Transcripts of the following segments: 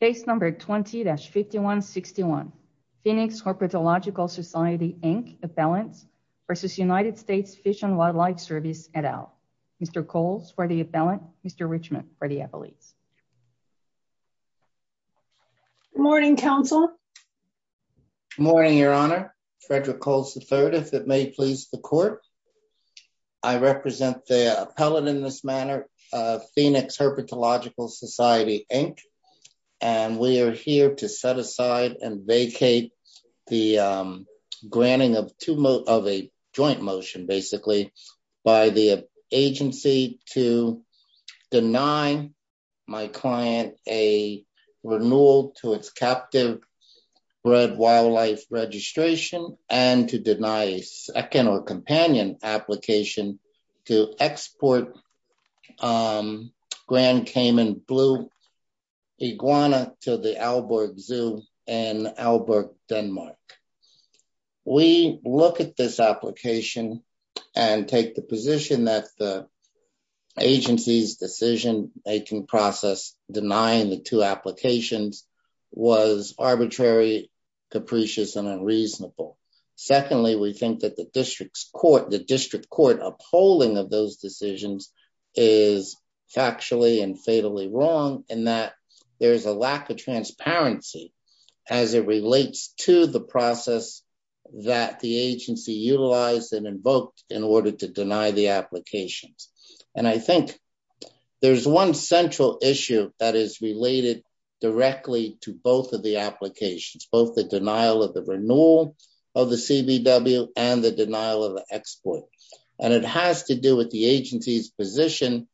case number 20-5161 phoenix herpetological society inc appellants versus united states fish and wildlife service et al mr coles for the appellant mr richmond for the appellates morning counsel morning your honor frederick coles the third if it may please the court i represent the appellate in this manner uh phoenix herpetological society inc and we are here to set aside and vacate the um granting of two of a joint motion basically by the agency to deny my client a renewal to its captive bred wildlife registration and to deny a second or companion application to export um grand cayman blue iguana to the albert zoo in albert denmark we look at this application and take the position that the agency's decision making process denying the two applications was arbitrary capricious and reasonable secondly we think that the district's court the district court upholding of those decisions is factually and fatally wrong in that there is a lack of transparency as it relates to the process that the agency utilized and invoked in order to deny the applications and i think there's one central issue that is related directly to both of the applications both the denial of the renewal of the cbw and the denial of the export and it has to do with the agency's position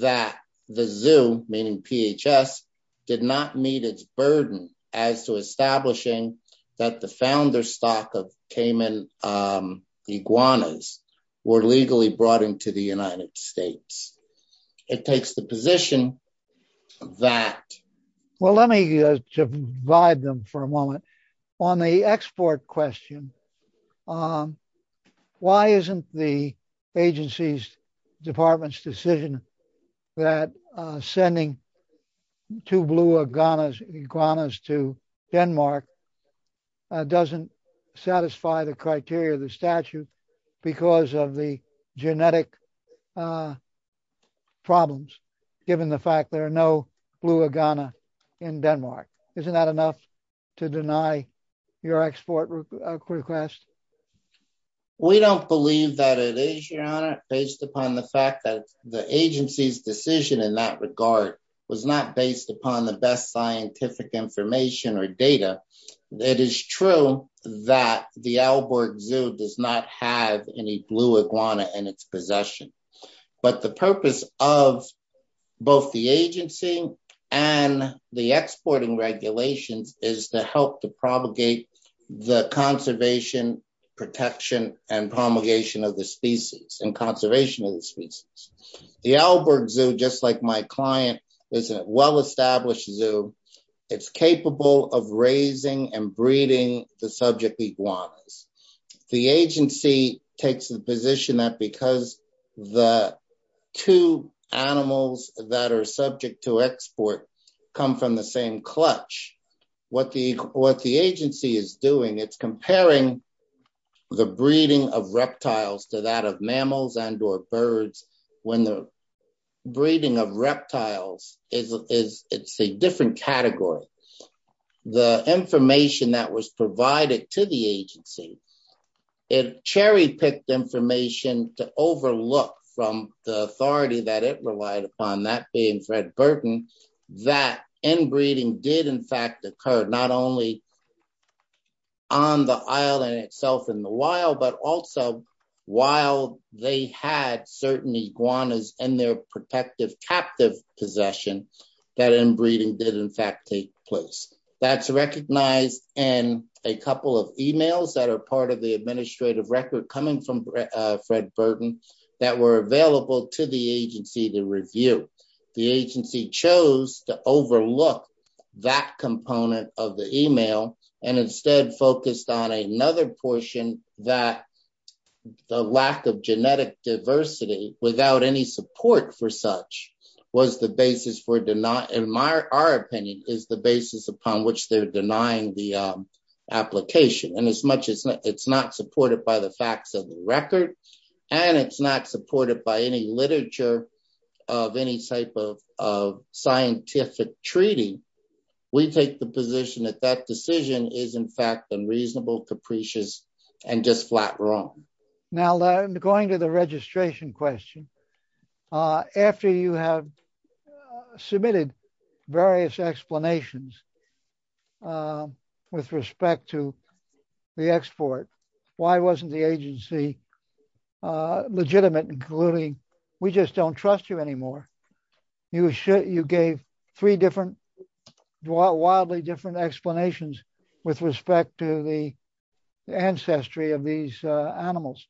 that the zoo meaning phs did not meet its burden as to establishing that the founder stock of cayman um iguanas were legally brought into the united states it takes the on the export question um why isn't the agency's department's decision that uh sending two blue iguanas iguanas to denmark doesn't satisfy the criteria of the statute because of the your export request we don't believe that it is your honor based upon the fact that the agency's decision in that regard was not based upon the best scientific information or data it is true that the albert zoo does not have any blue iguana in its possession but the purpose of both the agency and the exporting regulations is to help to propagate the conservation protection and promulgation of the species and conservation of the species the alberg zoo just like my client is a well-established zoo it's capable of raising and breeding the subject iguanas the agency takes the position that because the two animals that are subject to export come from the same clutch what the what the agency is doing it's comparing the breeding of reptiles to that of mammals and or birds when the breeding of reptiles is it's a different category the information that was provided to the agency it cherry-picked information to overlook from the authority that it relied upon that being fred burton that inbreeding did in fact occur not only on the island itself in the wild but also while they had certain iguanas and their protective captive possession that inbreeding did in fact take place that's recognized in a couple of emails that are part of the administrative record coming from fred burton that were available to the agency to review the agency chose to the lack of genetic diversity without any support for such was the basis for denying in my our opinion is the basis upon which they're denying the application and as much as it's not supported by the facts of the record and it's not supported by any literature of any type of of scientific treaty we take the position that that decision is in fact unreasonable capricious and just flat wrong now i'm going to the registration question uh after you have submitted various explanations uh with respect to the export why wasn't the agency uh legitimate including we just don't trust you anymore you should you gave three different wildly different explanations with respect to the ancestry of these uh animals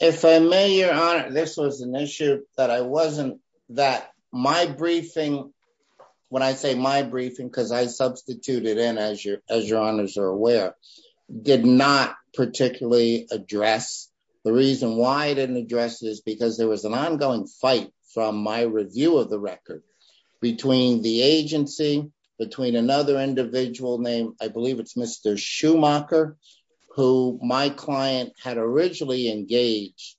if i may your honor this was an issue that i wasn't that my briefing when i say my briefing because i substituted in as your as your honors are aware did not particularly address the reason why i didn't address this because there was an ongoing fight from my review of the record between the agency between another individual named i believe it's mr schumacher who my client had originally engaged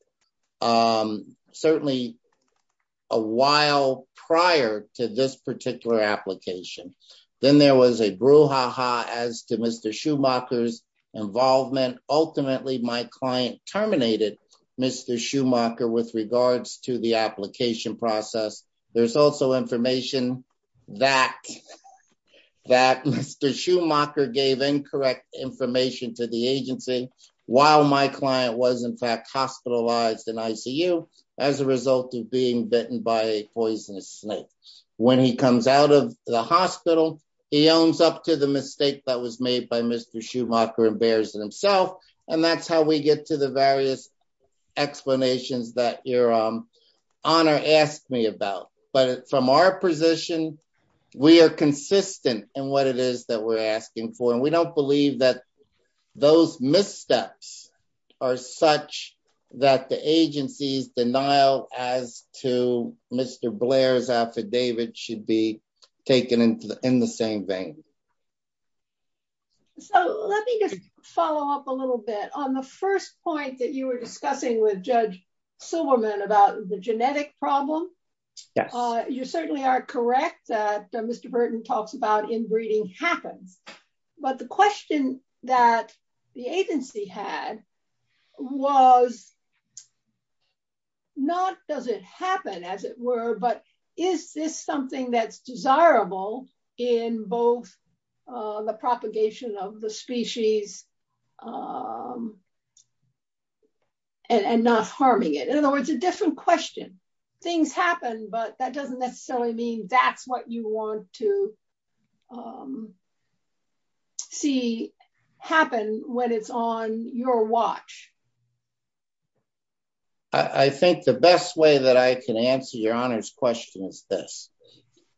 um certainly a while prior to this particular application then there was a brouhaha as to mr schumacher's involvement ultimately my client terminated mr schumacher with regards to the application process there's also information that that mr schumacher gave incorrect information to the agency while my client was in fact hospitalized in icu as a result of being bitten by a poisonous snake when he comes out of the hospital he owns up to the mistake that was made by mr schumacher and bears himself and that's how we get to the various explanations that your um honor asked me about but from our position we are consistent in what it is that we're asking for and we don't believe that those missteps are such that the agency's denial as to mr blair's affidavit should be taken into the in the same vein so let me just follow up a little bit on the first point that you were discussing with judge silverman about the genetic problem yes uh you certainly are correct that mr burton talks about inbreeding happens but the question that the agency had was not does it happen as it were but is this something that's desirable in both the propagation of the species and not harming it in other words a different question things happen but that doesn't necessarily mean that's what you want to see happen when it's on your watch i think the best way that i can answer your honor's question is this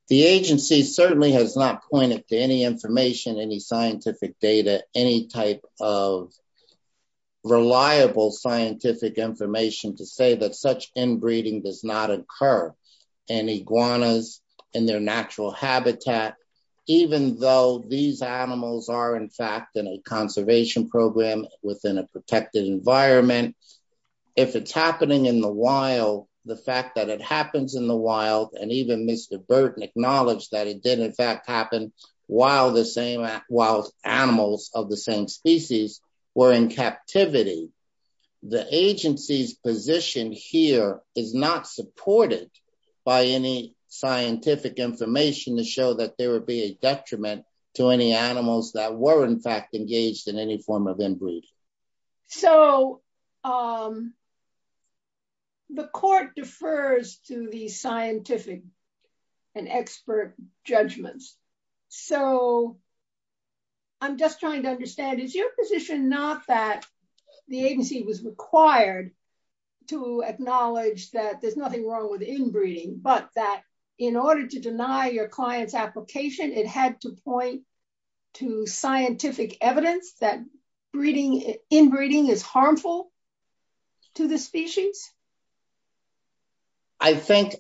the agency certainly has not pointed to any information any scientific data any type of reliable scientific information to say that such inbreeding does not occur in iguanas in their natural habitat even though these animals are in fact in a conservation program within a protected environment if it's happening in the wild the fact that it happens in the wild and even mr burton acknowledged that it did in fact happen while the same wild animals of the same species were in captivity the agency's position here is not supported by any scientific information to show that there be a detriment to any animals that were in fact engaged in any form of inbreed so um the court defers to the scientific and expert judgments so i'm just trying to understand is your position not that the agency was required to acknowledge that there's nothing wrong with application it had to point to scientific evidence that breeding inbreeding is harmful to the species i think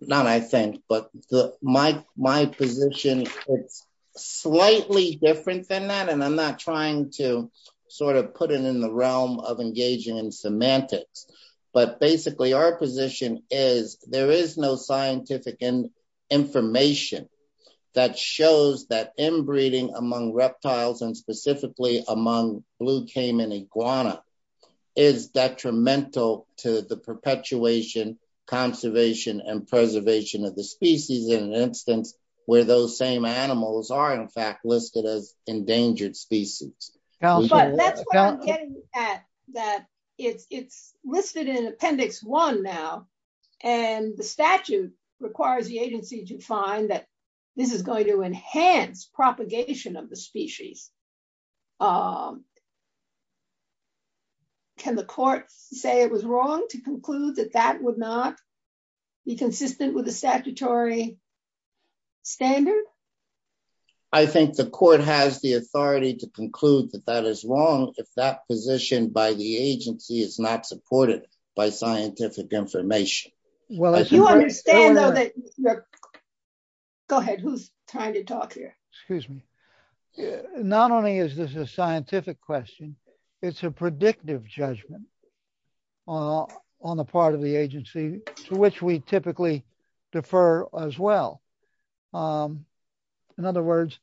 not i think but the my my position is slightly different than that and i'm not trying to sort of put it in the realm of engaging in semantics but basically our position is there is no scientific and information that shows that inbreeding among reptiles and specifically among blue caiman iguana is detrimental to the perpetuation conservation and preservation of the species in an instance where those same animals are in fact listed as and the statute requires the agency to find that this is going to enhance propagation of the species um can the court say it was wrong to conclude that that would not be consistent with the statutory standard i think the court has the authority to conclude that that is wrong if that position by the agency is not supported by scientific information well as you understand go ahead who's trying to talk here excuse me not only is this a scientific question it's a predictive judgment on the part of the agency to which we typically defer as well um in other words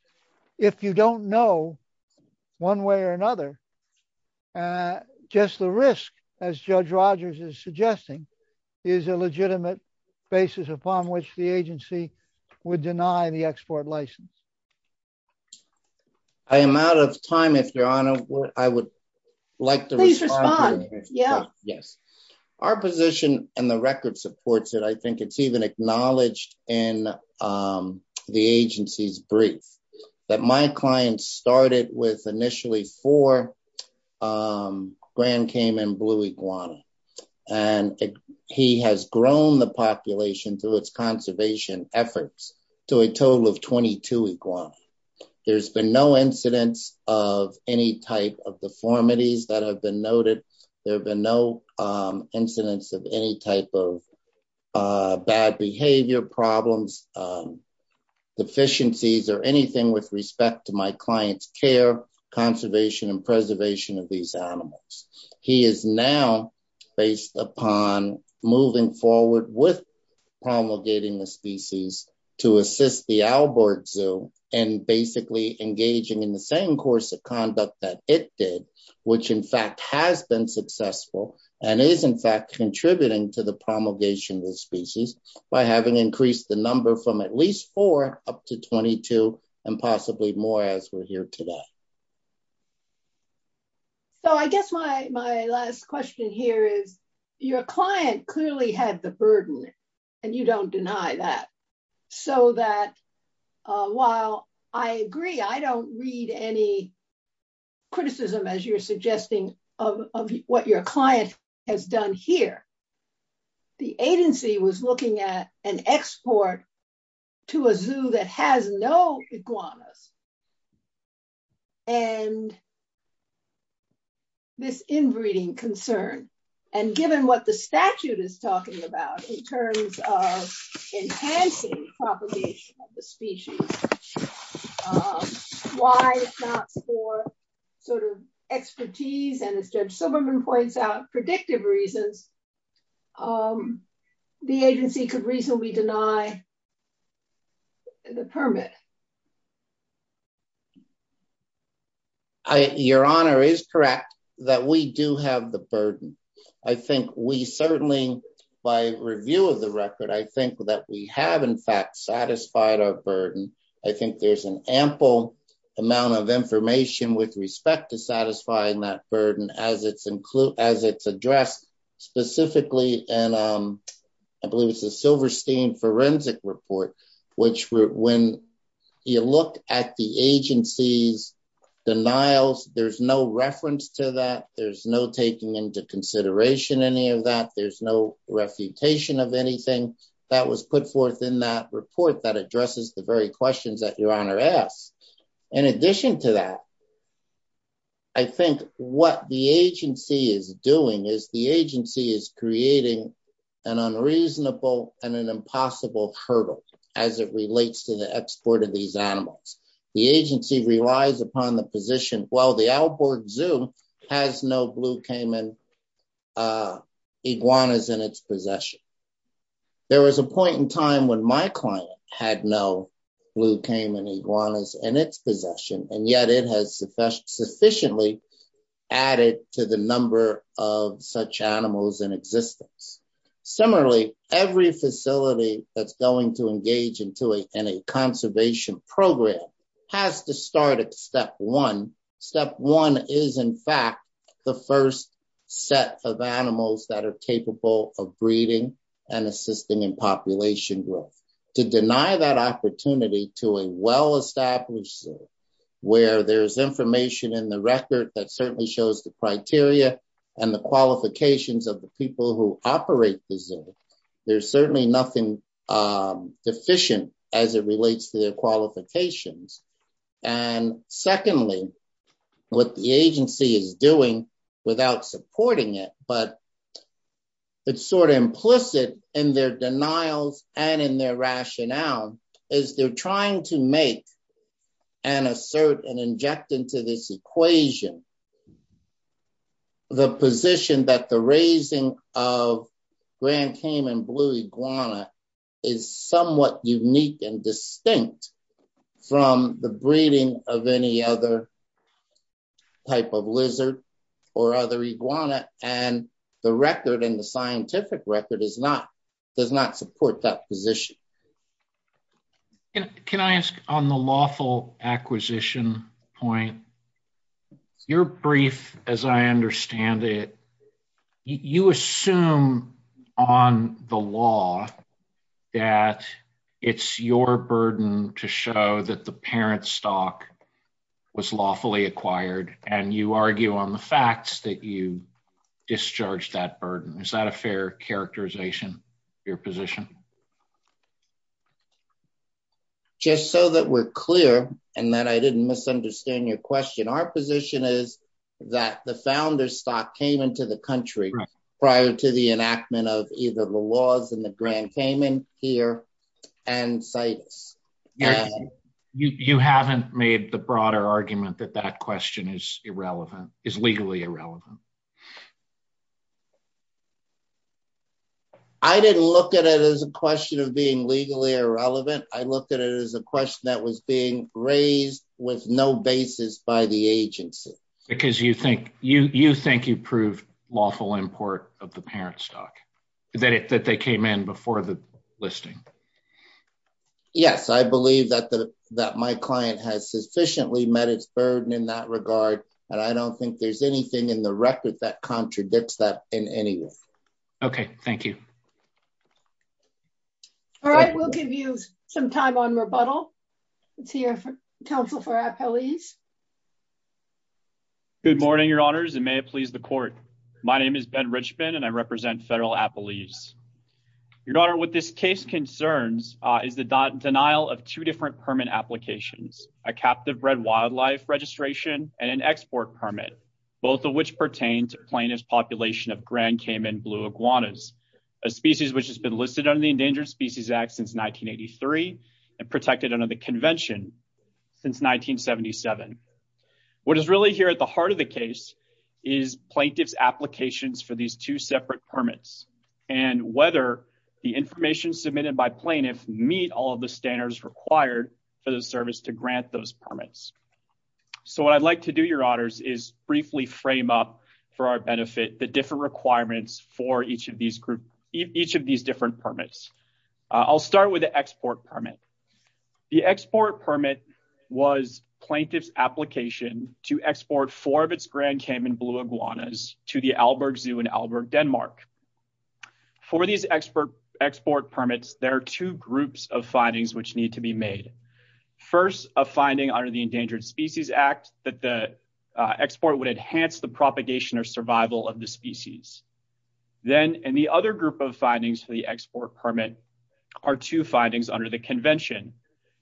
if you don't know one way or another uh just the risk as judge rogers is suggesting is a legitimate basis upon which the agency would deny the export license i am out of time if your honor i would like to respond yeah yes our position and the record supports it i think it's even acknowledged in um the agency's brief that my client started with initially four um grand caiman blue iguana and he has grown the population through its conservation efforts to a total of 22 iguana there's been no incidence of any type of deformities that have noted there have been no um incidents of any type of uh bad behavior problems um deficiencies or anything with respect to my client's care conservation and preservation of these animals he is now based upon moving forward with promulgating the species to assist the albert zoo and basically engaging in the same course of conduct that it did which in fact has been successful and is in fact contributing to the promulgation of the species by having increased the number from at least four up to 22 and possibly more as we're here today so i guess my my last question here is your client clearly had the burden and you don't deny that so that uh while i agree i don't read any criticism as you're suggesting of what your client has done here the agency was looking at an export to a zoo that has no iguanas and this inbreeding concern and given what the statute is talking about in terms of enhancing propagation of the species why not for sort of expertise and as judge silverman points out predictive reasons um the agency could reasonably deny the permit i your honor is correct that we do have the burden i think we certainly by review of the record i think that we have in fact satisfied our burden i think there's an ample amount of and um i believe it's a silverstein forensic report which when you look at the agency's denials there's no reference to that there's no taking into consideration any of that there's no refutation of anything that was put forth in that report that addresses the very questions that your is creating an unreasonable and an impossible hurdle as it relates to the export of these animals the agency relies upon the position while the outboard zoo has no blue caiman iguanas in its possession there was a point in time when my client had no blue caiman iguanas in its possession and yet it has sufficiently added to the number of such animals in existence similarly every facility that's going to engage into a conservation program has to start at step one step one is in fact the first set of animals that are capable of breeding and assisting in establishing where there's information in the record that certainly shows the criteria and the qualifications of the people who operate the zoo there's certainly nothing deficient as it relates to their qualifications and secondly what the agency is doing without supporting it but it's sort of implicit in their denials and in their rationale is they're trying to make and assert and inject into this equation the position that the raising of grand caiman blue iguana is somewhat unique and distinct from the breeding of any other type of lizard or other iguana and the record in the scientific record is not does not support that position can i ask on the lawful acquisition point your brief as i understand it you assume on the law that it's your burden to show that the parent stock was lawfully acquired and you argue on the facts that you discharged that burden is that a characterization your position just so that we're clear and that i didn't misunderstand your question our position is that the founder stock came into the country prior to the enactment of either the laws and the grand caiman here and situs you haven't made the broader argument that that question is irrelevant is legally irrelevant i didn't look at it as a question of being legally irrelevant i looked at it as a question that was being raised with no basis by the agency because you think you you think you prove lawful import of the parent stock that it that they came in before the listing yes i believe that my client has sufficiently met its burden in that regard and i don't think there's anything in the record that contradicts that in any way okay thank you all right we'll give you some time on rebuttal let's hear from counsel for appellees good morning your honors and may it please the court my name is ben richmond and i represent federal appellees your daughter with this case concerns uh is the denial of two different permit applications a captive bred wildlife registration and an export permit both of which pertain to plaintiff's population of grand cayman blue iguanas a species which has been listed under the endangered species act since 1983 and protected under the convention since 1977 what is really here at the heart of the case is plaintiff's applications for these two separate permits and whether the information submitted by plaintiff meet all of the standards required for the service to grant those permits so what i'd like to do your honors is briefly frame up for our benefit the different requirements for each of these group each of these different permits i'll start with the export permit the export permit was plaintiff's application to export four of its grand cayman blue iguanas to the albergue zoo in albergue denmark for these expert export permits there are two groups of findings which need to be made first a finding under the endangered species act that the export would enhance the propagation or survival of the species then and the other group of findings for the export permit are two findings under the convention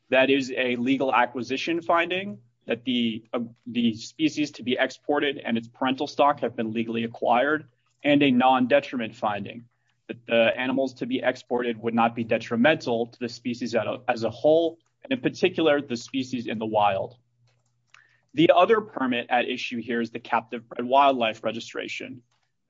that is a legal acquisition finding that the the species to be exported and its parental stock have been legally acquired and a non-detriment finding that the animals to be exported would not be detrimental to the species as a whole and in particular the species in the wild the other permit at issue here is the captive wildlife registration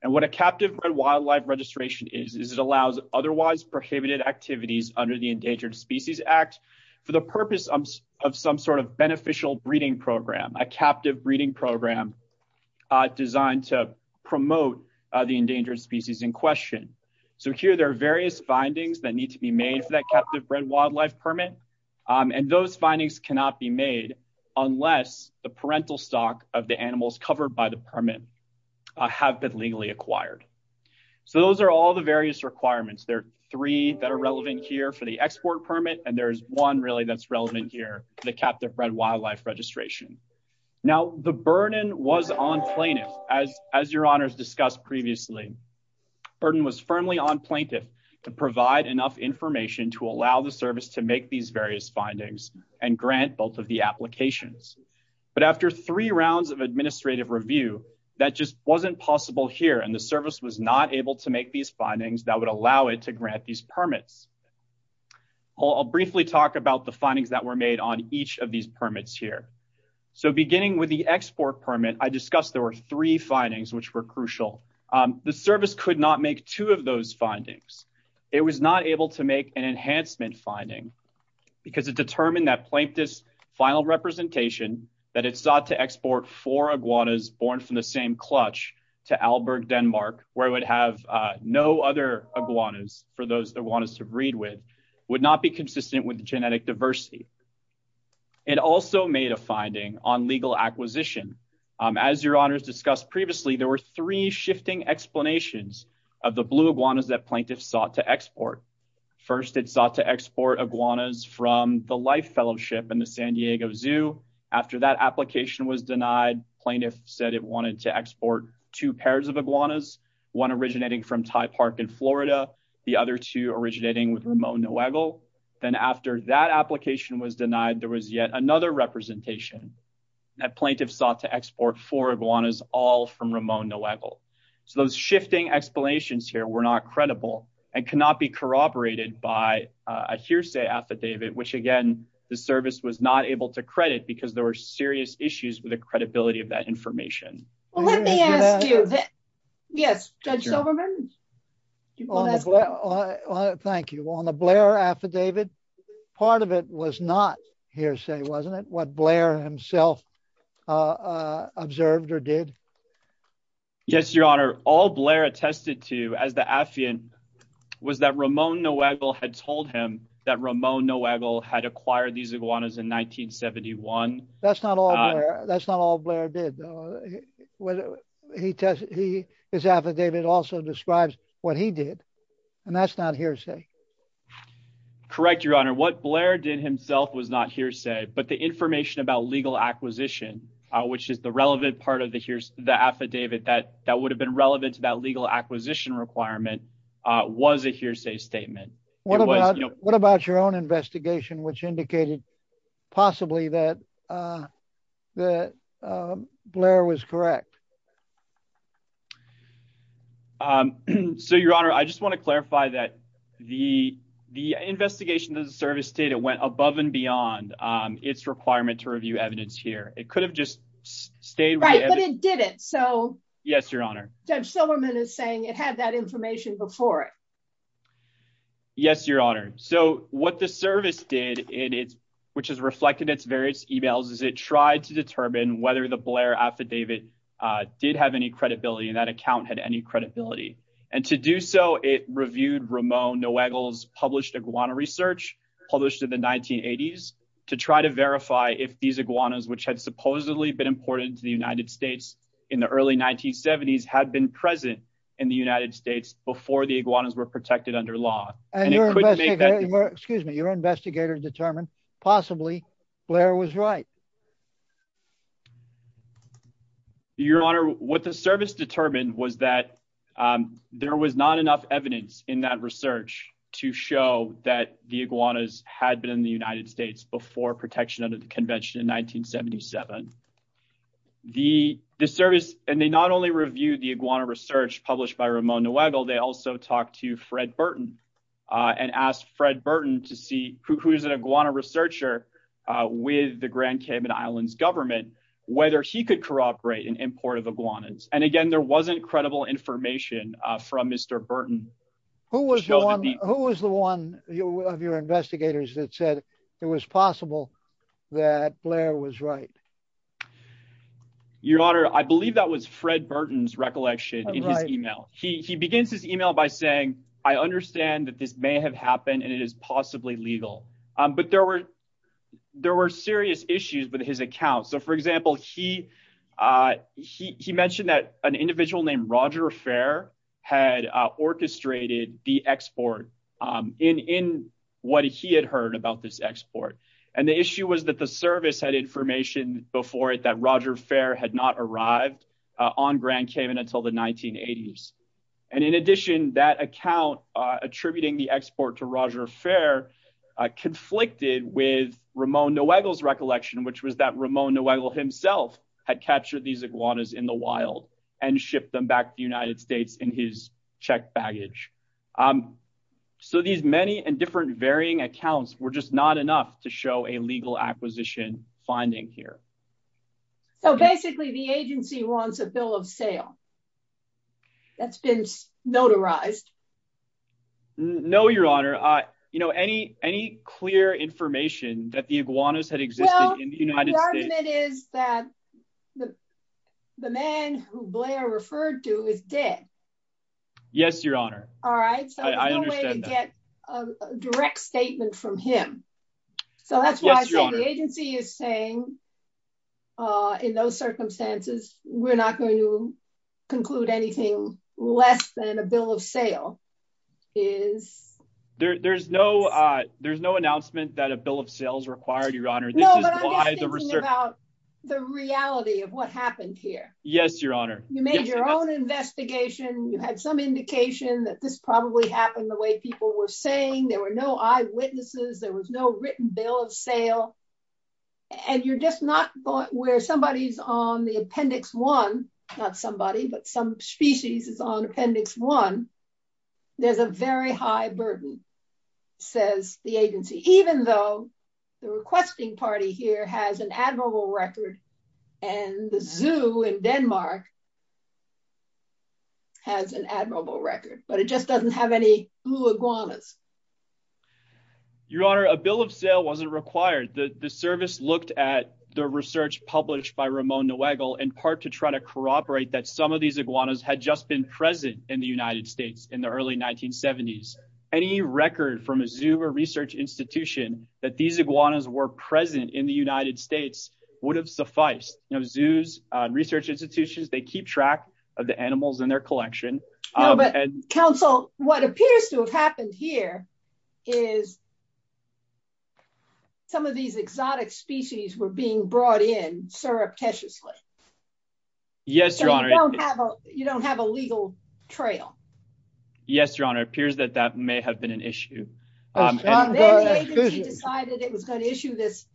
and what a captive wildlife registration is is it allows otherwise prohibited activities under the endangered species act for the purpose of some sort of beneficial breeding program a captive breeding program designed to promote the endangered species in question so here there are various findings that need to be made for that captive bred wildlife permit and those findings cannot be made unless the parental stock of the animals covered by the permit have been legally acquired so those are all the various requirements there are three that are relevant here for the export permit and there's one really that's relevant here the captive bred wildlife registration now the burden was on plaintiff as as your honors discussed previously burden was firmly on plaintiff to provide enough information to allow the service to make these various findings and grant both of the applications but after three rounds of administrative review that just wasn't possible here and the service was not able to make these findings that would allow it to grant these permits i'll briefly talk about the findings that were made on each of these permits here so beginning with the export permit i discussed there were three findings which were crucial the service could not make two of those findings it was not able to make an enhancement finding because it determined that plaintiff's final representation that it sought to export four iguanas born from the same clutch to alberg denmark where it would have no other iguanas for those that want us to breed with would not be consistent with genetic diversity it also made a finding on legal acquisition as your honors discussed previously there were three shifting explanations of the blue iguanas that plaintiff sought to export first it sought to export iguanas from the life fellowship in the san diego zoo after that application was denied plaintiff said it wanted to export two pairs of iguanas one originating from ty park in florida the other two originating with ramon noagle then after that application was denied there was yet another representation that plaintiff sought to export four iguanas all from ramon noagle those shifting explanations here were not credible and cannot be corroborated by a hearsay affidavit which again the service was not able to credit because there were serious issues with the credibility of that information well let me ask you that yes judge silverman thank you on the blair affidavit part of it was not hearsay wasn't it what blair himself uh observed or did yes your honor all blair attested to as the affian was that ramon noagle had told him that ramon noagle had acquired these iguanas in 1971 that's not all that's not all blair did though he tested he his affidavit also describes what he did and that's not hearsay correct your honor what blair did himself was not hearsay but the information about legal acquisition which is the relevant part of the affidavit that that would have been relevant to that legal acquisition requirement uh was a hearsay statement what about what about your own investigation which indicated possibly that uh that blair was correct um so your honor i just want to clarify that the the investigation of the service stated went above and beyond um its requirement to review evidence here it could have just stayed right but it didn't so yes your honor judge silverman is saying it had that information before it yes your honor so what the service did in its which has reflected its various emails is it tried to determine whether the blair affidavit uh did have any credibility and that account had any credibility and to do so it reviewed ramon noagle's published iguana research published in 1980s to try to verify if these iguanas which had supposedly been imported into the united states in the early 1970s had been present in the united states before the iguanas were protected under law excuse me your investigator determined possibly blair was right your honor what the service determined was that um there was not enough evidence in that research to show that the iguanas had been in the united states before protection under the convention in 1977 the the service and they not only reviewed the iguana research published by ramon noagle they also talked to fred burton uh and asked fred burton to see who's an iguana researcher with the grand cayman islands government whether he could corroborate an import of iguanas and again there wasn't credible information uh from mr burton who was the one who was the one you of your investigators that said it was possible that blair was right your honor i believe that was fred burton's recollection in his email he he begins his email by saying i understand that this may have happened and it is possibly legal um but there were there were serious issues with his account so for example he uh he he that an individual named roger fair had uh orchestrated the export um in in what he had heard about this export and the issue was that the service had information before it that roger fair had not arrived on grand cayman until the 1980s and in addition that account uh attributing the export to roger fair uh conflicted with ramon noagle's recollection which was that ramon noagle had captured these iguanas in the wild and shipped them back to the united states in his check baggage um so these many and different varying accounts were just not enough to show a legal acquisition finding here so basically the agency wants a bill of sale that's been notarized no your honor uh you know any any clear information that the iguanas had existed it is that the the man who blair referred to is dead yes your honor all right so i understand a direct statement from him so that's why the agency is saying uh in those circumstances we're not going to conclude anything less than a bill of sale is there there's no uh there's no announcement that a bill of sales required your honor this is why the research about the reality of what happened here yes your honor you made your own investigation you had some indication that this probably happened the way people were saying there were no eyewitnesses there was no written bill of sale and you're just not where somebody's on the appendix one not somebody but some species is on appendix one there's a very high burden says the agency even though the requesting party here has an admirable record and the zoo in denmark has an admirable record but it just doesn't have any blue iguanas your honor a bill of sale wasn't required the the service looked at the research published by ramon newagle in part to try to corroborate that some of these iguanas had just been present in the united states in the early 1970s any record from a zoo or research institution that these iguanas were present in the united states would have sufficed you know zoos research institutions they keep track of the animals in their collection but counsel what appears to have happened here is some of these exotic species were being brought in surreptitiously yes your honor you don't have a you don't have a legal trail yes your honor appears that that may have been an issue he decided it was going to issue this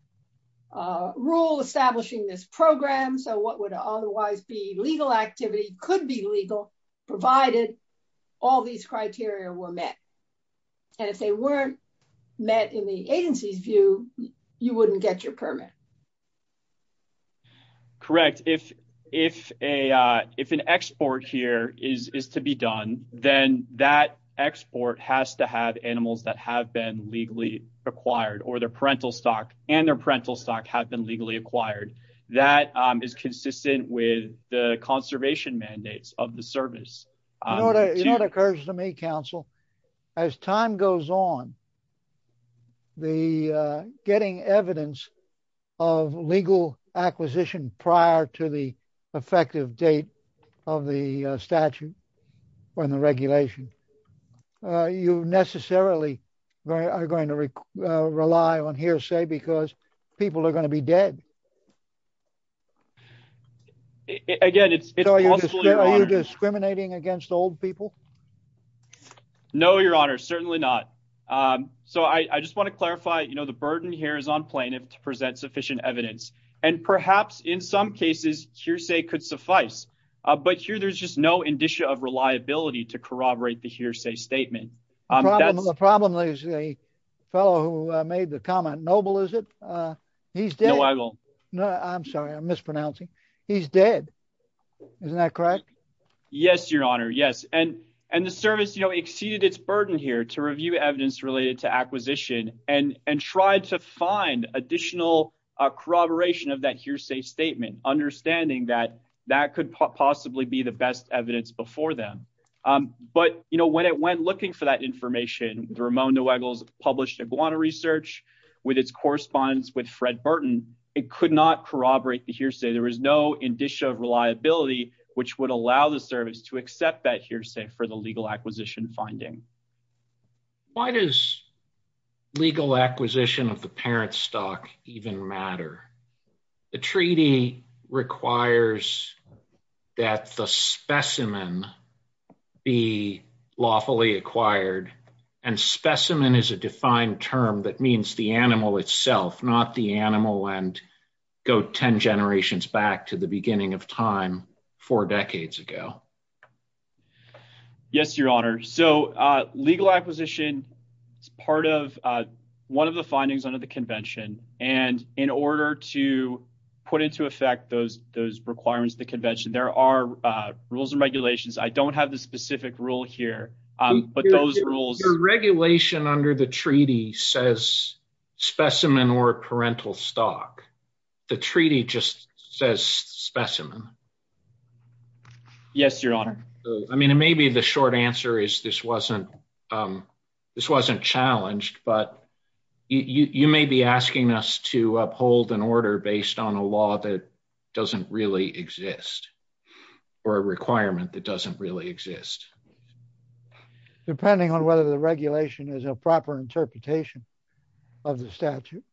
rule establishing this program so what would otherwise be legal activity could be legal provided all these criteria were met and if weren't met in the agency's view you wouldn't get your permit correct if if a uh if an export here is is to be done then that export has to have animals that have been legally acquired or their parental stock and their parental stock have been legally acquired that is consistent with the conservation mandates of the service you know what occurs to me counsel as time goes on the getting evidence of legal acquisition prior to the effective date of the statute when the regulation you necessarily are going to rely on hearsay because people are going to be dead again it's it's discriminating against old people no your honor certainly not um so i i just want to clarify you know the burden here is on plaintiff to present sufficient evidence and perhaps in some cases hearsay could suffice uh but here there's just no indicia of reliability to corroborate the hearsay statement um that's the problem is a fellow who made the comment noble is it uh he's no i'm sorry i'm mispronouncing he's dead isn't that correct yes your honor yes and and the service you know exceeded its burden here to review evidence related to acquisition and and tried to find additional uh corroboration of that hearsay statement understanding that that could possibly be the best evidence before them um but you know when it went looking for that information ramon de weggles published iguana research with its correspondence with fred burton it could not corroborate the hearsay there was no indicia of reliability which would allow the service to accept that hearsay for the legal acquisition finding why does legal acquisition of the parent stock even matter the treaty requires that the specimen be lawfully acquired and specimen is a defined term that means the animal itself not the animal and go 10 generations back to the beginning of time four decades ago yes your honor so uh legal acquisition is part of uh one of the findings under the convention and in order to i don't have the specific rule here um but those rules your regulation under the treaty says specimen or parental stock the treaty just says specimen yes your honor i mean it may be the short answer is this wasn't um this wasn't challenged but you you may be asking us to exist depending on whether the regulation is a proper interpretation of the statute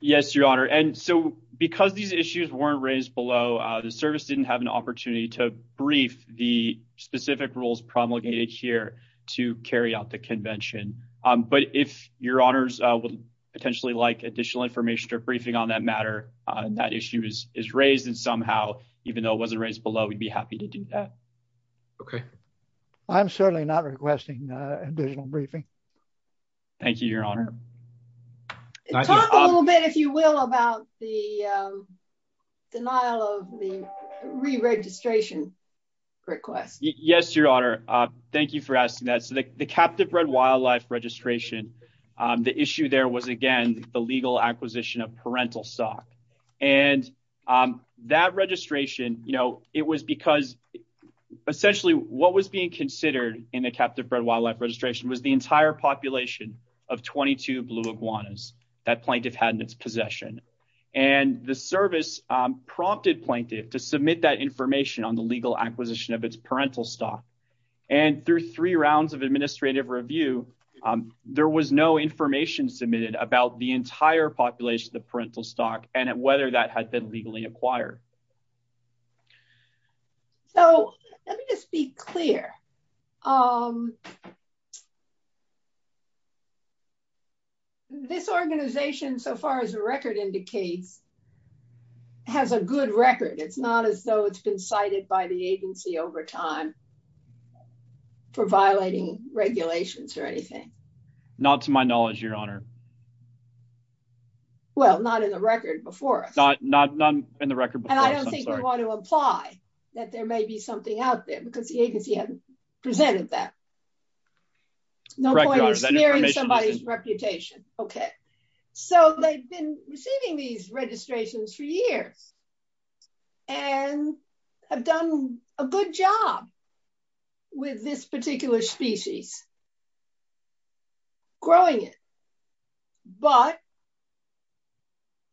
yes your honor and so because these issues weren't raised below uh the service didn't have an opportunity to brief the specific rules promulgated here to carry out the convention um but if your honors would potentially like additional information or briefing on that matter on that issue is is raised and somehow even though it wasn't raised below we'd be happy to do that okay i'm certainly not requesting uh additional briefing thank you your honor talk a little bit if you will about the um denial of the re-registration request yes your honor uh thank you for asking that so the captive bred wildlife registration um the issue there was again the legal acquisition of parental stock and um that registration you know it was because essentially what was being considered in the captive bred wildlife registration was the entire population of 22 blue iguanas that plaintiff had in its possession and the service um prompted plaintiff to submit that information on the legal acquisition of its parental stock and through three rounds of administrative review um there was no information submitted about the entire so let me just be clear um this organization so far as a record indicates has a good record it's not as though it's been cited by the agency over time for violating regulations or anything not to my knowledge your honor well not in the record before us not not not in the record and i don't think we want to apply that there may be something out there because the agency hasn't presented that no point in sparing somebody's reputation okay so they've been receiving these registrations for years and have done a good job with this particular species growing it but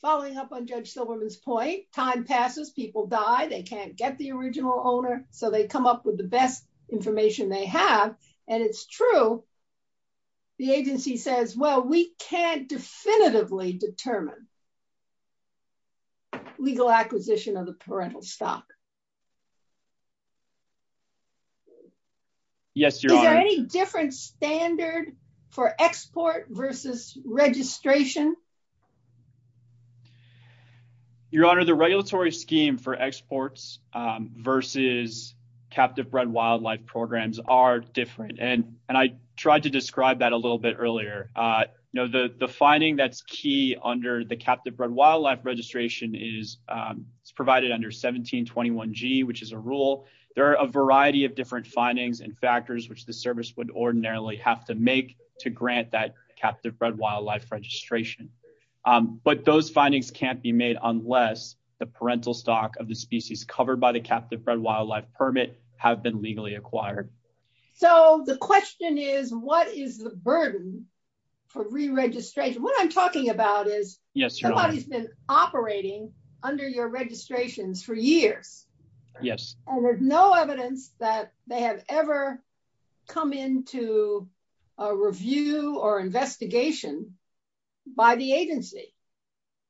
following up on judge silverman's point time passes people die they can't get the original owner so they come up with the best information they have and it's true the agency says well we can't definitively determine legal acquisition of the parental stock is there any different standard for export versus registration your honor the regulatory scheme for exports um versus captive bred wildlife programs are different and and i tried to describe that a little bit earlier uh you know the the finding that's key under the captive bred wildlife registration is um it's provided under 1721g which is a rule there are a variety of different findings and factors which the service would ordinarily have to make to grant that captive bred wildlife registration um but those findings can't be made unless the parental stock of the species covered by the captive bred wildlife permit have been legally acquired so the question is what is the burden for re-registration what i'm talking about is yes somebody's been operating under your registrations for years yes and there's no evidence that they have ever come into a review or investigation by the agency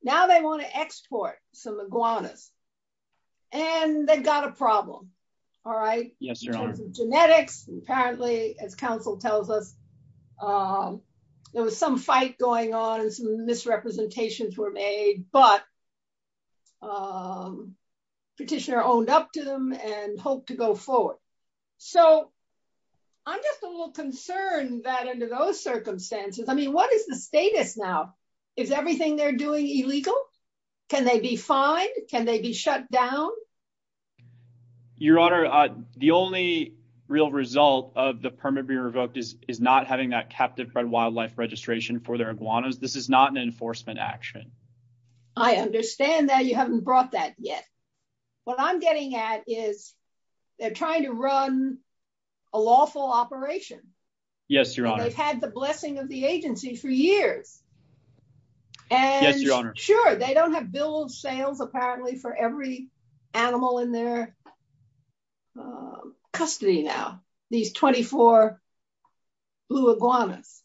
now they want to export some iguanas and they've got a problem all right genetics apparently as council tells us um there was some fight going on and some misrepresentations were made but um petitioner owned up to them and hoped to go forward so i'm just a little concerned that under those circumstances i mean what is the status now is everything they're doing illegal can they be fined can they be shut down your honor uh the only real result of the permit be revoked is is not having that captive bred wildlife registration for their iguanas this is not an enforcement action i understand that you haven't brought that yet what i'm getting at is they're trying to run a lawful operation yes your honor they've had the blessing of the agency for years and sure they don't have bills sales apparently for every animal in their custody now these 24 blue iguanas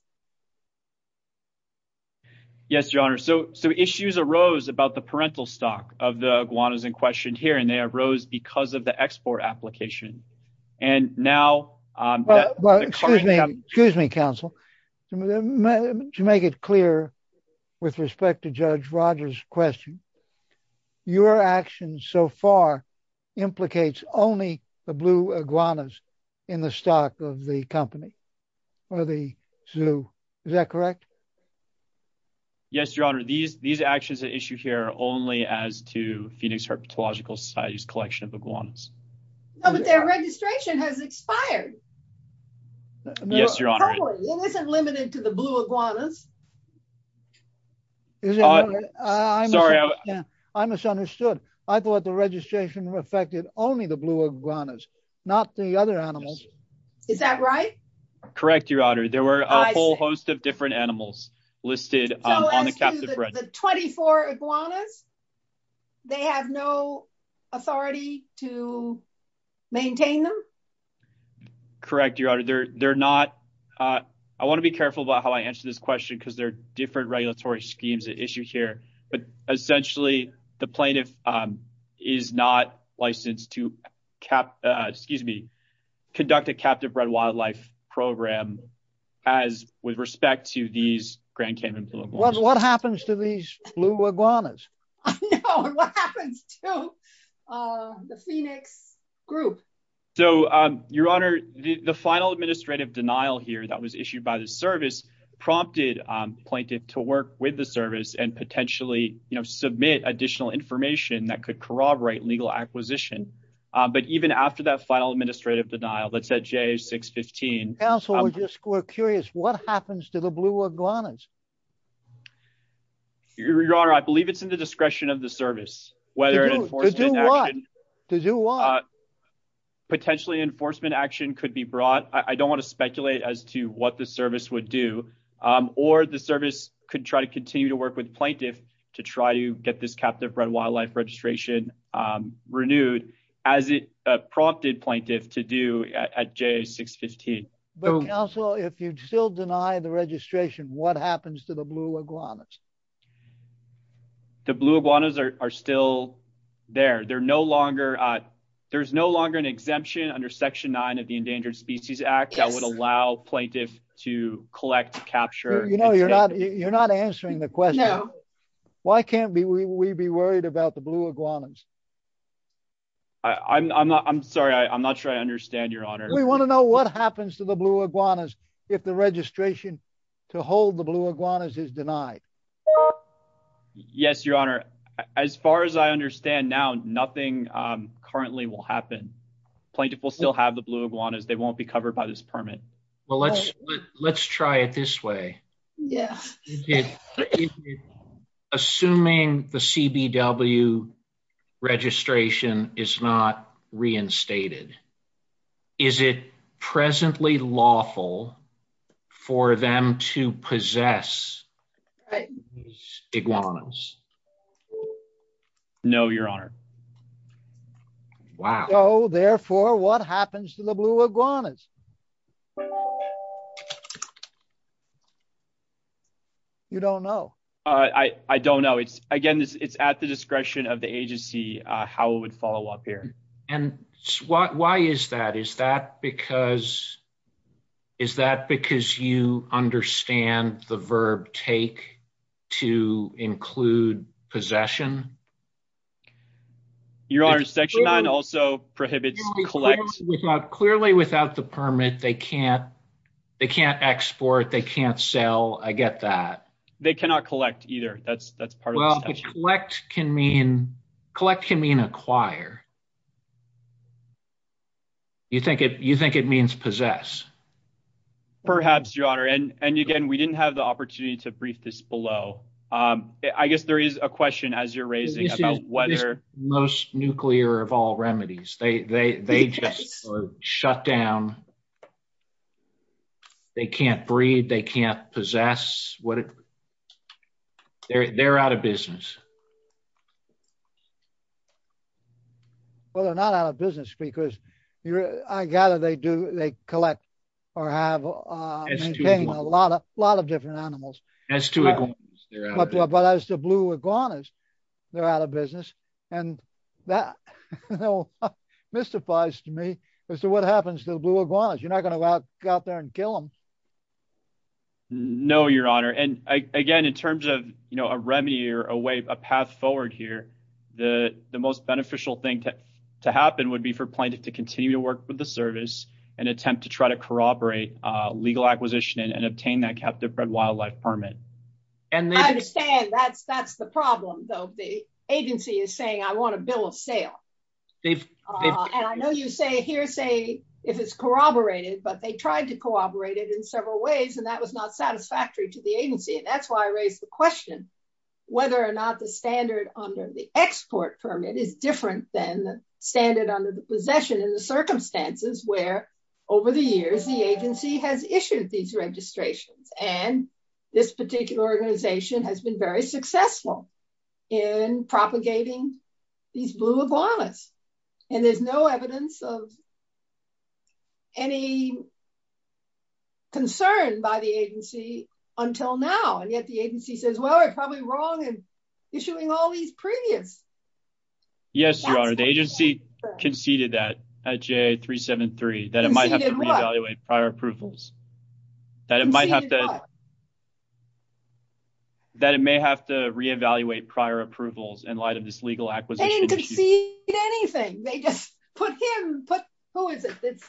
yes your honor so so issues arose about the parental stock of the iguanas in question here and they arose because of the export application and now um well excuse me excuse me council to make it clear with respect to judge rogers question your actions so far implicates only the blue iguanas in the stock of the company or the zoo is that correct yes your honor these these actions are issued here only as to phoenix herpetological society's limited to the blue iguanas i misunderstood i thought the registration affected only the blue iguanas not the other animals is that right correct your honor there were a whole host of different animals listed on the captive 24 iguanas they have no authority to maintain them correct your honor they're they're not uh i want to be careful about how i answer this question because there are different regulatory schemes at issue here but essentially the plaintiff um is not licensed to cap uh excuse me conduct a captive bred wildlife program as with respect to these grand cayman blue what happens to these blue iguanas i know what happens to uh the phoenix group so um your honor the the final administrative denial here that was issued by the service prompted um plaintiff to work with the service and potentially you know submit additional information that could corroborate legal acquisition but even after that final administrative denial that said j 615 council would just we're curious what happens to the to do what potentially enforcement action could be brought i don't want to speculate as to what the service would do um or the service could try to continue to work with plaintiff to try to get this captive bred wildlife registration um renewed as it prompted plaintiff to do at j 615 but also if you still deny the registration what happens to the blue iguanas the blue iguanas are still there they're no longer uh there's no longer an exemption under section 9 of the endangered species act that would allow plaintiff to collect capture you know you're not you're not answering the question why can't we be worried about the blue iguanas i i'm not i'm sorry i'm not sure i understand your honor we want to know what happens to the blue iguanas if the registration to hold the blue iguanas is denied yes your honor as far as i understand now nothing um currently will happen plaintiff will still have the blue iguanas they won't be covered by this permit well let's let's try it this way yes assuming the cbw registration is not reinstated is it presently lawful for them to possess iguanas no your honor wow oh therefore what happens to the blue iguanas you don't know uh i i don't know it's again it's at the discretion of the agency uh how it would and why why is that is that because is that because you understand the verb take to include possession your honor section 9 also prohibits collect without clearly without the permit they can't they can't export they can't sell i get that they cannot collect either that's that's well collect can mean collect can mean acquire you think it you think it means possess perhaps your honor and and again we didn't have the opportunity to brief this below um i guess there is a question as you're raising about whether most nuclear of all remedies they they they just shut down they can't breed they can't possess what they're they're out of business well they're not out of business because you're i gather they do they collect or have uh a lot of a lot of different animals as to but as the blue iguanas they're out of business and that no mystifies to me as to what happens to the blue iguanas you're not going to go out there and kill them no your honor and again in terms of you know a remedy or a way a path forward here the the most beneficial thing to to happen would be for plaintiff to continue to work with the service and attempt to try to corroborate uh legal acquisition and obtain that captive bred wildlife permit and i understand that's that's the problem though the agency is saying i want a bill of sale they've and i know you say here say if it's corroborated but they tried to cooperate it in several ways and that was not satisfactory to the agency and that's why i raised the question whether or not the standard under the export permit is different than the standard under the possession in the circumstances where over the years the agency has issued these registrations and this particular organization has been very successful in propagating these blue iguanas and there's no evidence of any concern by the agency until now and yet the agency says well we're probably wrong and issuing all these previous yes your honor the agency conceded that at j373 that it might have to re-evaluate prior approvals that it might have to that it may have to re-evaluate prior approvals in light of this legal acquisition anything they just put him put who is it it's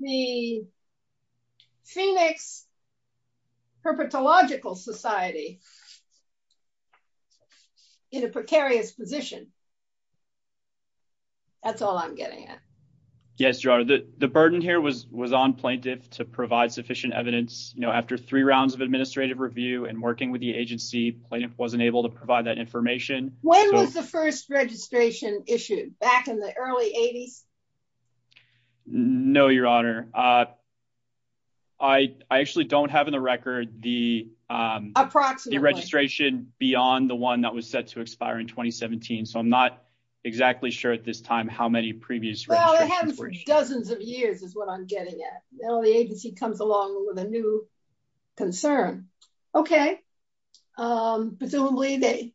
the phoenix herpetological society in a precarious position that's all i'm getting at yes your honor the burden here was was on evidence you know after three rounds of administrative review and working with the agency plaintiff wasn't able to provide that information when was the first registration issued back in the early 80s no your honor uh i i actually don't have in the record the um approximately registration beyond the one that was set to expire in 2017 so i'm not exactly sure at this time how many previous well it happened for dozens of years is what i'm getting at now the agency comes along with a new concern okay um presumably they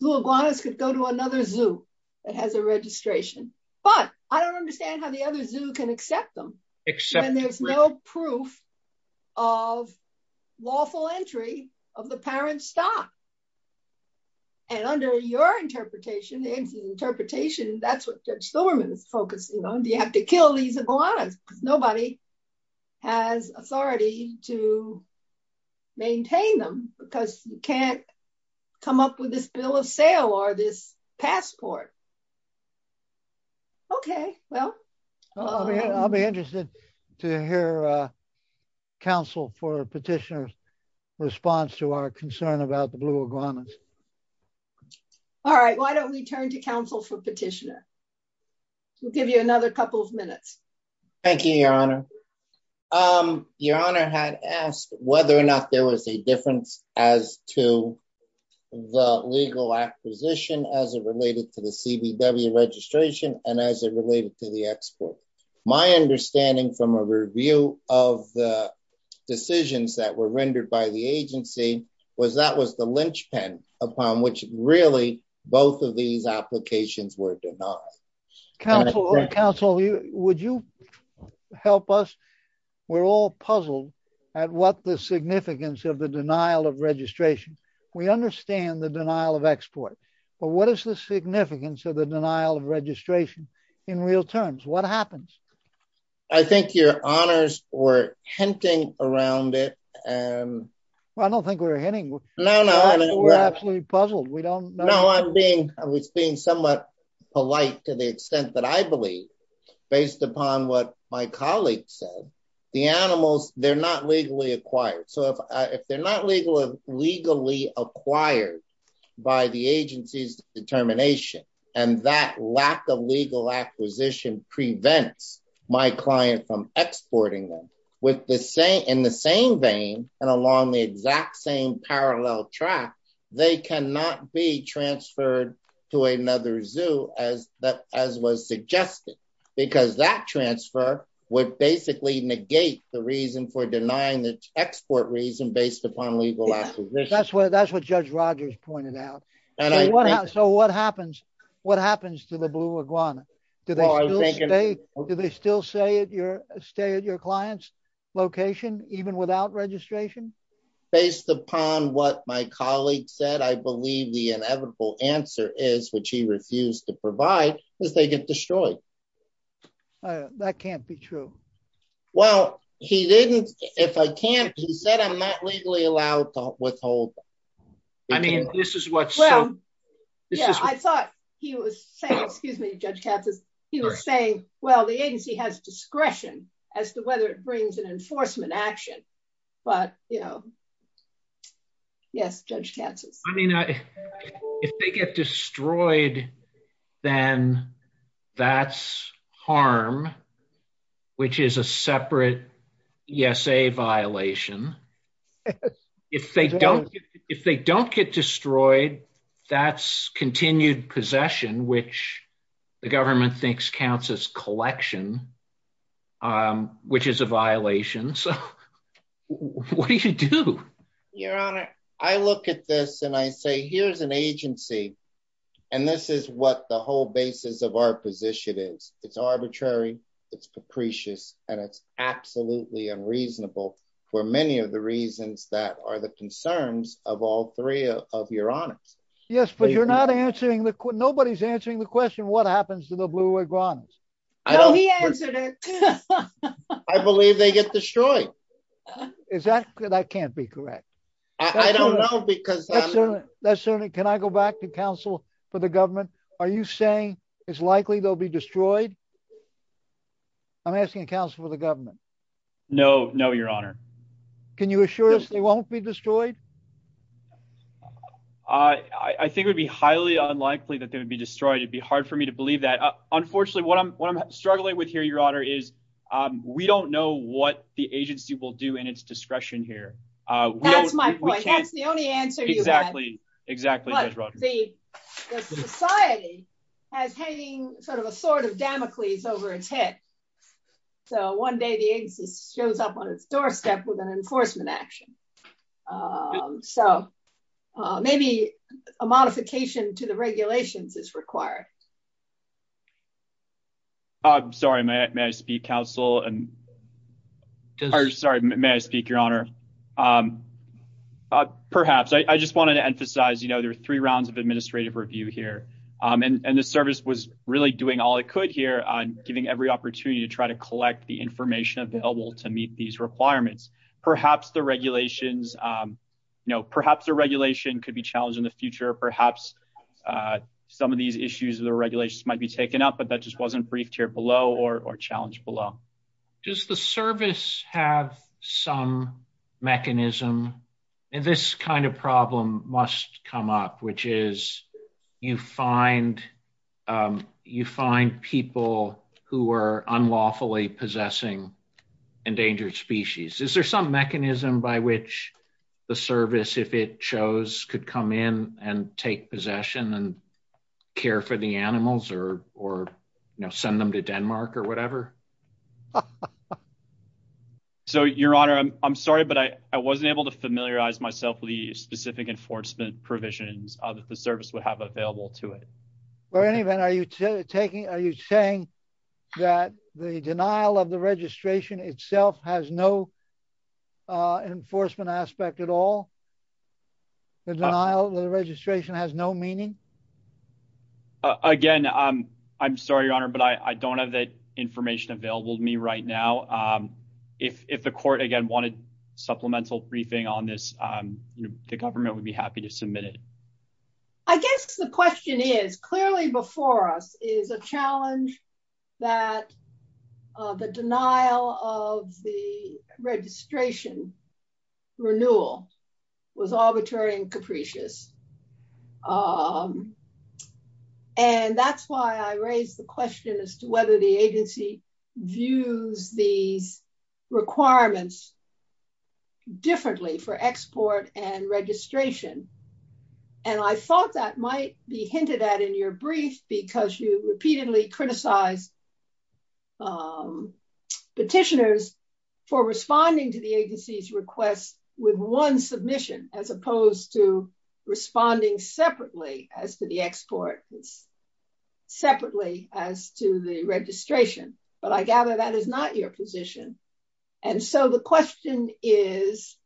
blew iguanas could go to another zoo that has a registration but i don't understand how the other zoo can accept them except there's no proof of lawful entry of the parent stock and under your interpretation the agency's interpretation that's what judge silverman is focusing on do you have to kill these iguanas nobody has authority to maintain them because you can't come up with this bill of sale or this passport okay well i'll be interested to hear uh council for petitioner's response to our concern about the blue iguanas all right why don't we turn to council for petitioner we'll give you another couple of minutes thank you your honor um your honor had asked whether or not there was a difference as to the legal acquisition as it related to the cbw registration and as it related to the export my understanding from a review of the decisions that were rendered by the agency was that was the lynch pen upon which really both of these applications were denied council council would you help us we're all puzzled at what the significance of the denial of registration we understand the denial of export but what is the significance of the denial of registration in real terms what happens i think your honors were hinting around it um well i don't think we're hinting no no we're absolutely puzzled we don't know i'm being i was being somewhat polite to the extent that i believe based upon what my colleague said the animals they're not legally acquired so if if they're not legal legally acquired by the agency's determination and that lack of legal acquisition prevents my client from exporting them with the in the same vein and along the exact same parallel track they cannot be transferred to another zoo as that as was suggested because that transfer would basically negate the reason for denying the export reason based upon legal acquisition that's what that's what judge rogers pointed out and i want to know what happens what happens to the blue iguana do they do they still say at your stay at your client's location even without registration based upon what my colleague said i believe the inevitable answer is which he refused to provide because they get destroyed that can't be true well he didn't if i can't he said i'm not legally allowed to withhold i mean this is what's well yeah i thought he was saying excuse me judge katz's he was saying well the agency has discretion as to whether it brings an enforcement action but you know yes judge chances i mean i if they get destroyed then that's harm which is a separate yes a violation if they don't if they don't get destroyed that's continued possession which the government thinks counts as collection um which is a violation so what do you do your honor i look at this and i say here's an agency and this is what the whole basis of our position is it's arbitrary it's capricious and it's absolutely unreasonable for many of the reasons that are the concerns of all three of your honors yes but you're not answering the nobody's answering the question what happens to the blue iguanas i know he answered it i believe they get destroyed is that that can't be correct i don't know because that's certainly can i go back to council for the government are you saying it's likely they'll be destroyed i'm asking council for the government no no your honor can you assure us they won't be destroyed i i think it would be highly unlikely that they would be destroyed it'd be hard for me to believe that unfortunately what i'm what i'm struggling with here your honor is um we don't know what the agency will do in its discretion here uh that's my point that's the only answer exactly exactly the society has hanging sort of a sort of damocles over its head so one day the agency shows up on its doorstep with an enforcement action um so maybe a modification to the regulations is required i'm sorry may i speak council and sorry may i speak your honor um uh perhaps i i just wanted to emphasize you know there are three rounds of administrative review here um and and the try to collect the information available to meet these requirements perhaps the regulations um you know perhaps the regulation could be challenged in the future perhaps uh some of these issues of the regulations might be taken up but that just wasn't briefed here below or or challenged below does the service have some mechanism and this kind of problem must come up which is you find um you find people who are unlawfully possessing endangered species is there some mechanism by which the service if it chose could come in and take possession and care for the animals or or you know send them to denmark or whatever so your honor i'm sorry but i i wasn't able to familiarize myself with the specific enforcement provisions that the service would have available to it or any event are you taking are you saying that the denial of the registration itself has no uh enforcement aspect at all the denial of the registration has no meaning again um i'm sorry your honor but i i don't have that information available to me right now um if if the court again wanted supplemental briefing on this um the government would be happy to submit it i guess the question is clearly before us is a challenge that uh the denial of the registration renewal was arbitrary and capricious um and that's why i raised the question as to whether the agency views these requirements differently for export and registration and i thought that might be hinted at in your brief because you repeatedly criticized um petitioners for responding to the agency's request with one submission as opposed to responding separately as to the export separately as to the registration but i gather that is not your position and so the question is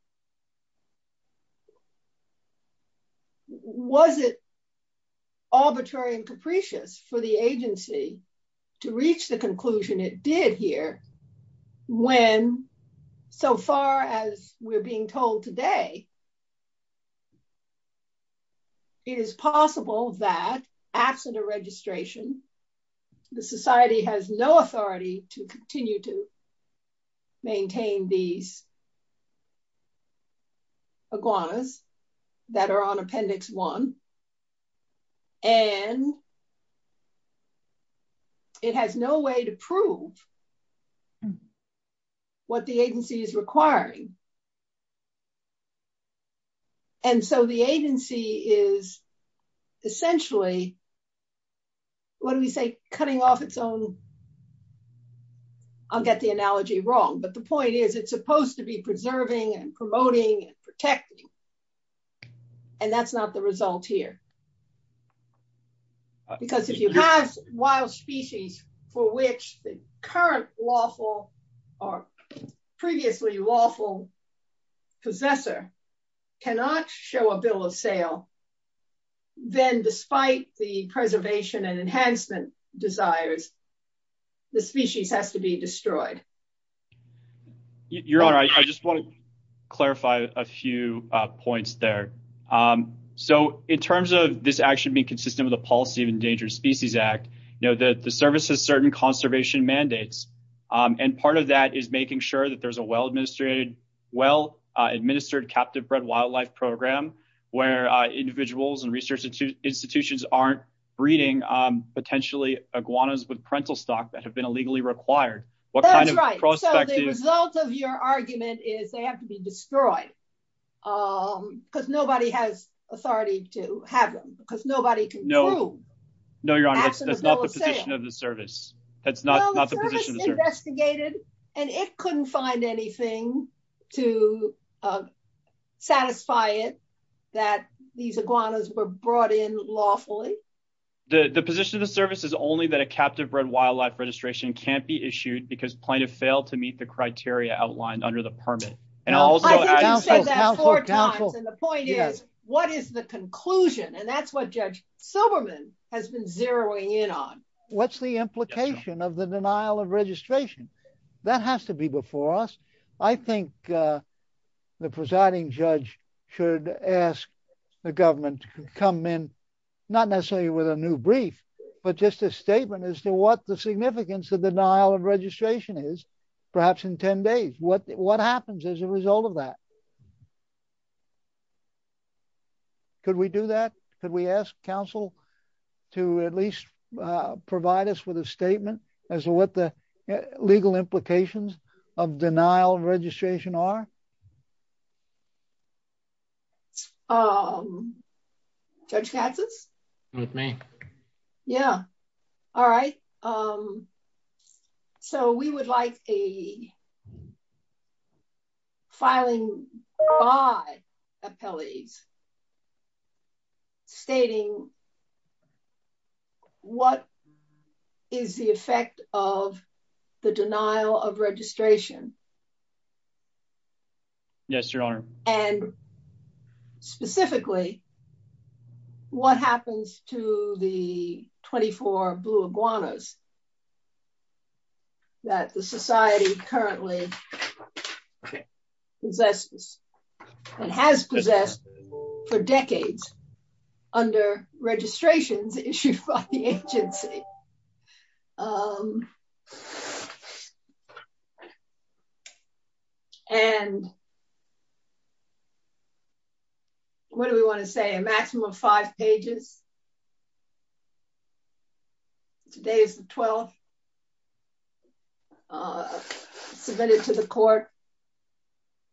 was it arbitrary and capricious for the agency to reach the conclusion it did here when so far as we're being told today it is possible that absent a registration the society has no authority to continue to maintain these iguanas that are on appendix one and it has no way to prove um what the agency is requiring and so the agency is essentially what do we say cutting off its own i'll get the analogy wrong but the point is it's supposed to be preserving and promoting and protecting and that's not the result here because if you have wild species for which the current lawful or previously lawful possessor cannot show a bill of sale then despite the preservation and enhancement desires the species has to be destroyed you're all right i just want to clarify a few points there um so in terms of this action being consistent with the policy of endangered species act you know that the service has certain conservation mandates um and part of that is making sure that there's a well administrated well uh administered captive bred wildlife program where uh individuals and research institutions aren't breeding um potentially iguanas with parental stock that have been legally required what kind of prospect the result of your argument is they have to be destroyed um because nobody has authority to have them because nobody can no no your honor that's not the position of the service that's not not the position investigated and it couldn't find anything to uh satisfy it that these iguanas were brought in lawfully the the position of the service is only that a captive bred wildlife registration can't be issued because plaintiff failed to meet the criteria outlined under the permit and also what is the conclusion and that's what judge silverman has been zeroing in on what's the implication of the denial of registration that has to be before us i think uh the presiding judge should ask the government to come in not necessarily with a new brief but just a statement as to what the significance of denial of registration is perhaps in 10 days what what happens as a result of that could we do that could we ask council to at least provide us with a statement as to what the legal implications of denial of registration are um judge katz's with me yeah all right um so we would like a filing by appellees stating what is the effect of the denial of registration yes your honor and specifically what happens to the 24 blue iguanas that the society currently possesses and has possessed for decades under registrations issued by the agency um and what do we want to say a maximum of five pages today is the 12th uh submitted to the court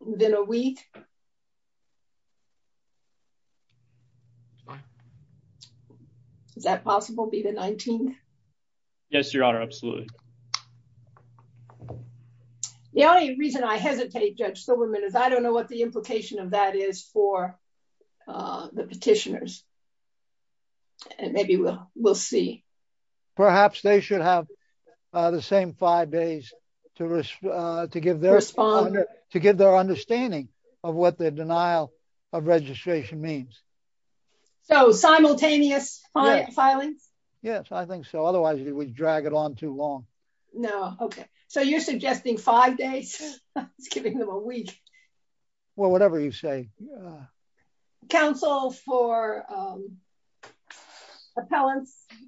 within a week that's fine is that possible be the 19th yes your honor absolutely the only reason i hesitate judge silverman is i don't know what the implication of that is for uh the petitioners and maybe we'll we'll see perhaps they should have uh the same five days to uh to give their responder to give their understanding of what the denial of registration means so simultaneous filings yes i think so otherwise it would drag it on too long no okay so you're suggesting five days it's giving them a week well whatever you say council for appellants um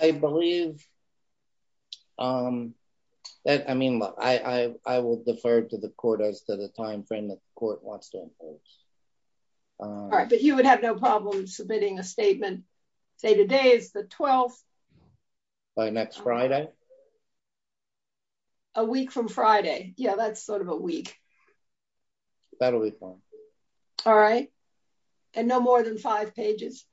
i believe um that i mean look i i i will defer to the court as to the time frame that the court wants to enforce all right but you would have no problem submitting a statement say today is the 12th by next friday a week from friday yeah that's sort of a week so that'll be fine all right and no more than five pages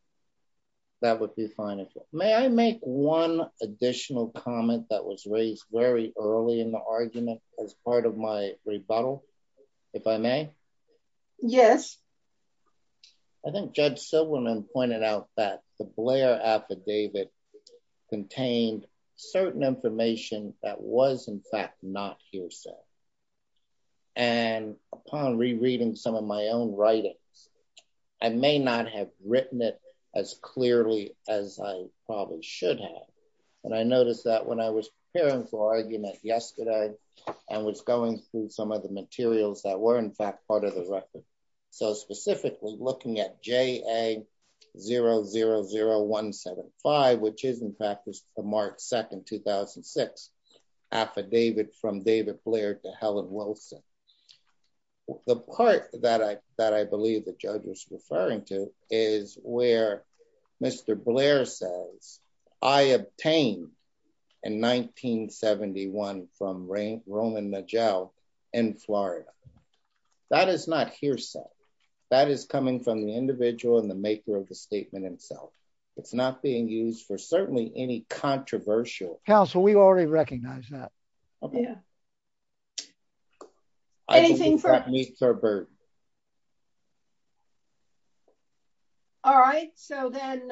that would be fine as well may i make one additional comment that was raised very early in the argument as part of my rebuttal if i may yes i think judge silverman pointed out that the blair affidavit contained certain information that was in fact not hearsay and upon rereading some of my own writings i may not have written it as clearly as i probably should have and i noticed that when i was preparing for argument yesterday and was going through some of the materials that were in fact part of the record so specifically looking at ja 000175 which is in fact was the march 2nd 2006 affidavit from david blair to helen wilson the part that i that i believe the judge was referring to is where mr blair says i obtained in 1971 from roman najel in florida that is not hearsay that is coming from the individual and the maker of the statement himself it's not being used for certainly any controversial counsel we already recognize that yeah anything for me sir bird all right so then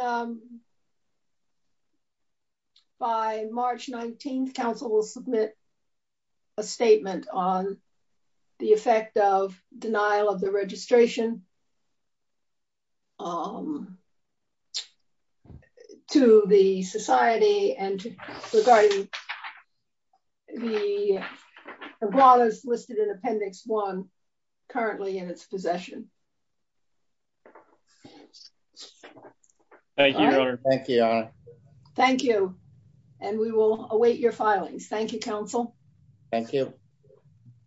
by march 19th council will submit a statement on the effect of denial of the registration um to the society and regarding the brawler's listed in appendix one currently in its possession thank you thank you thank you and we will await your filings thank you council thank you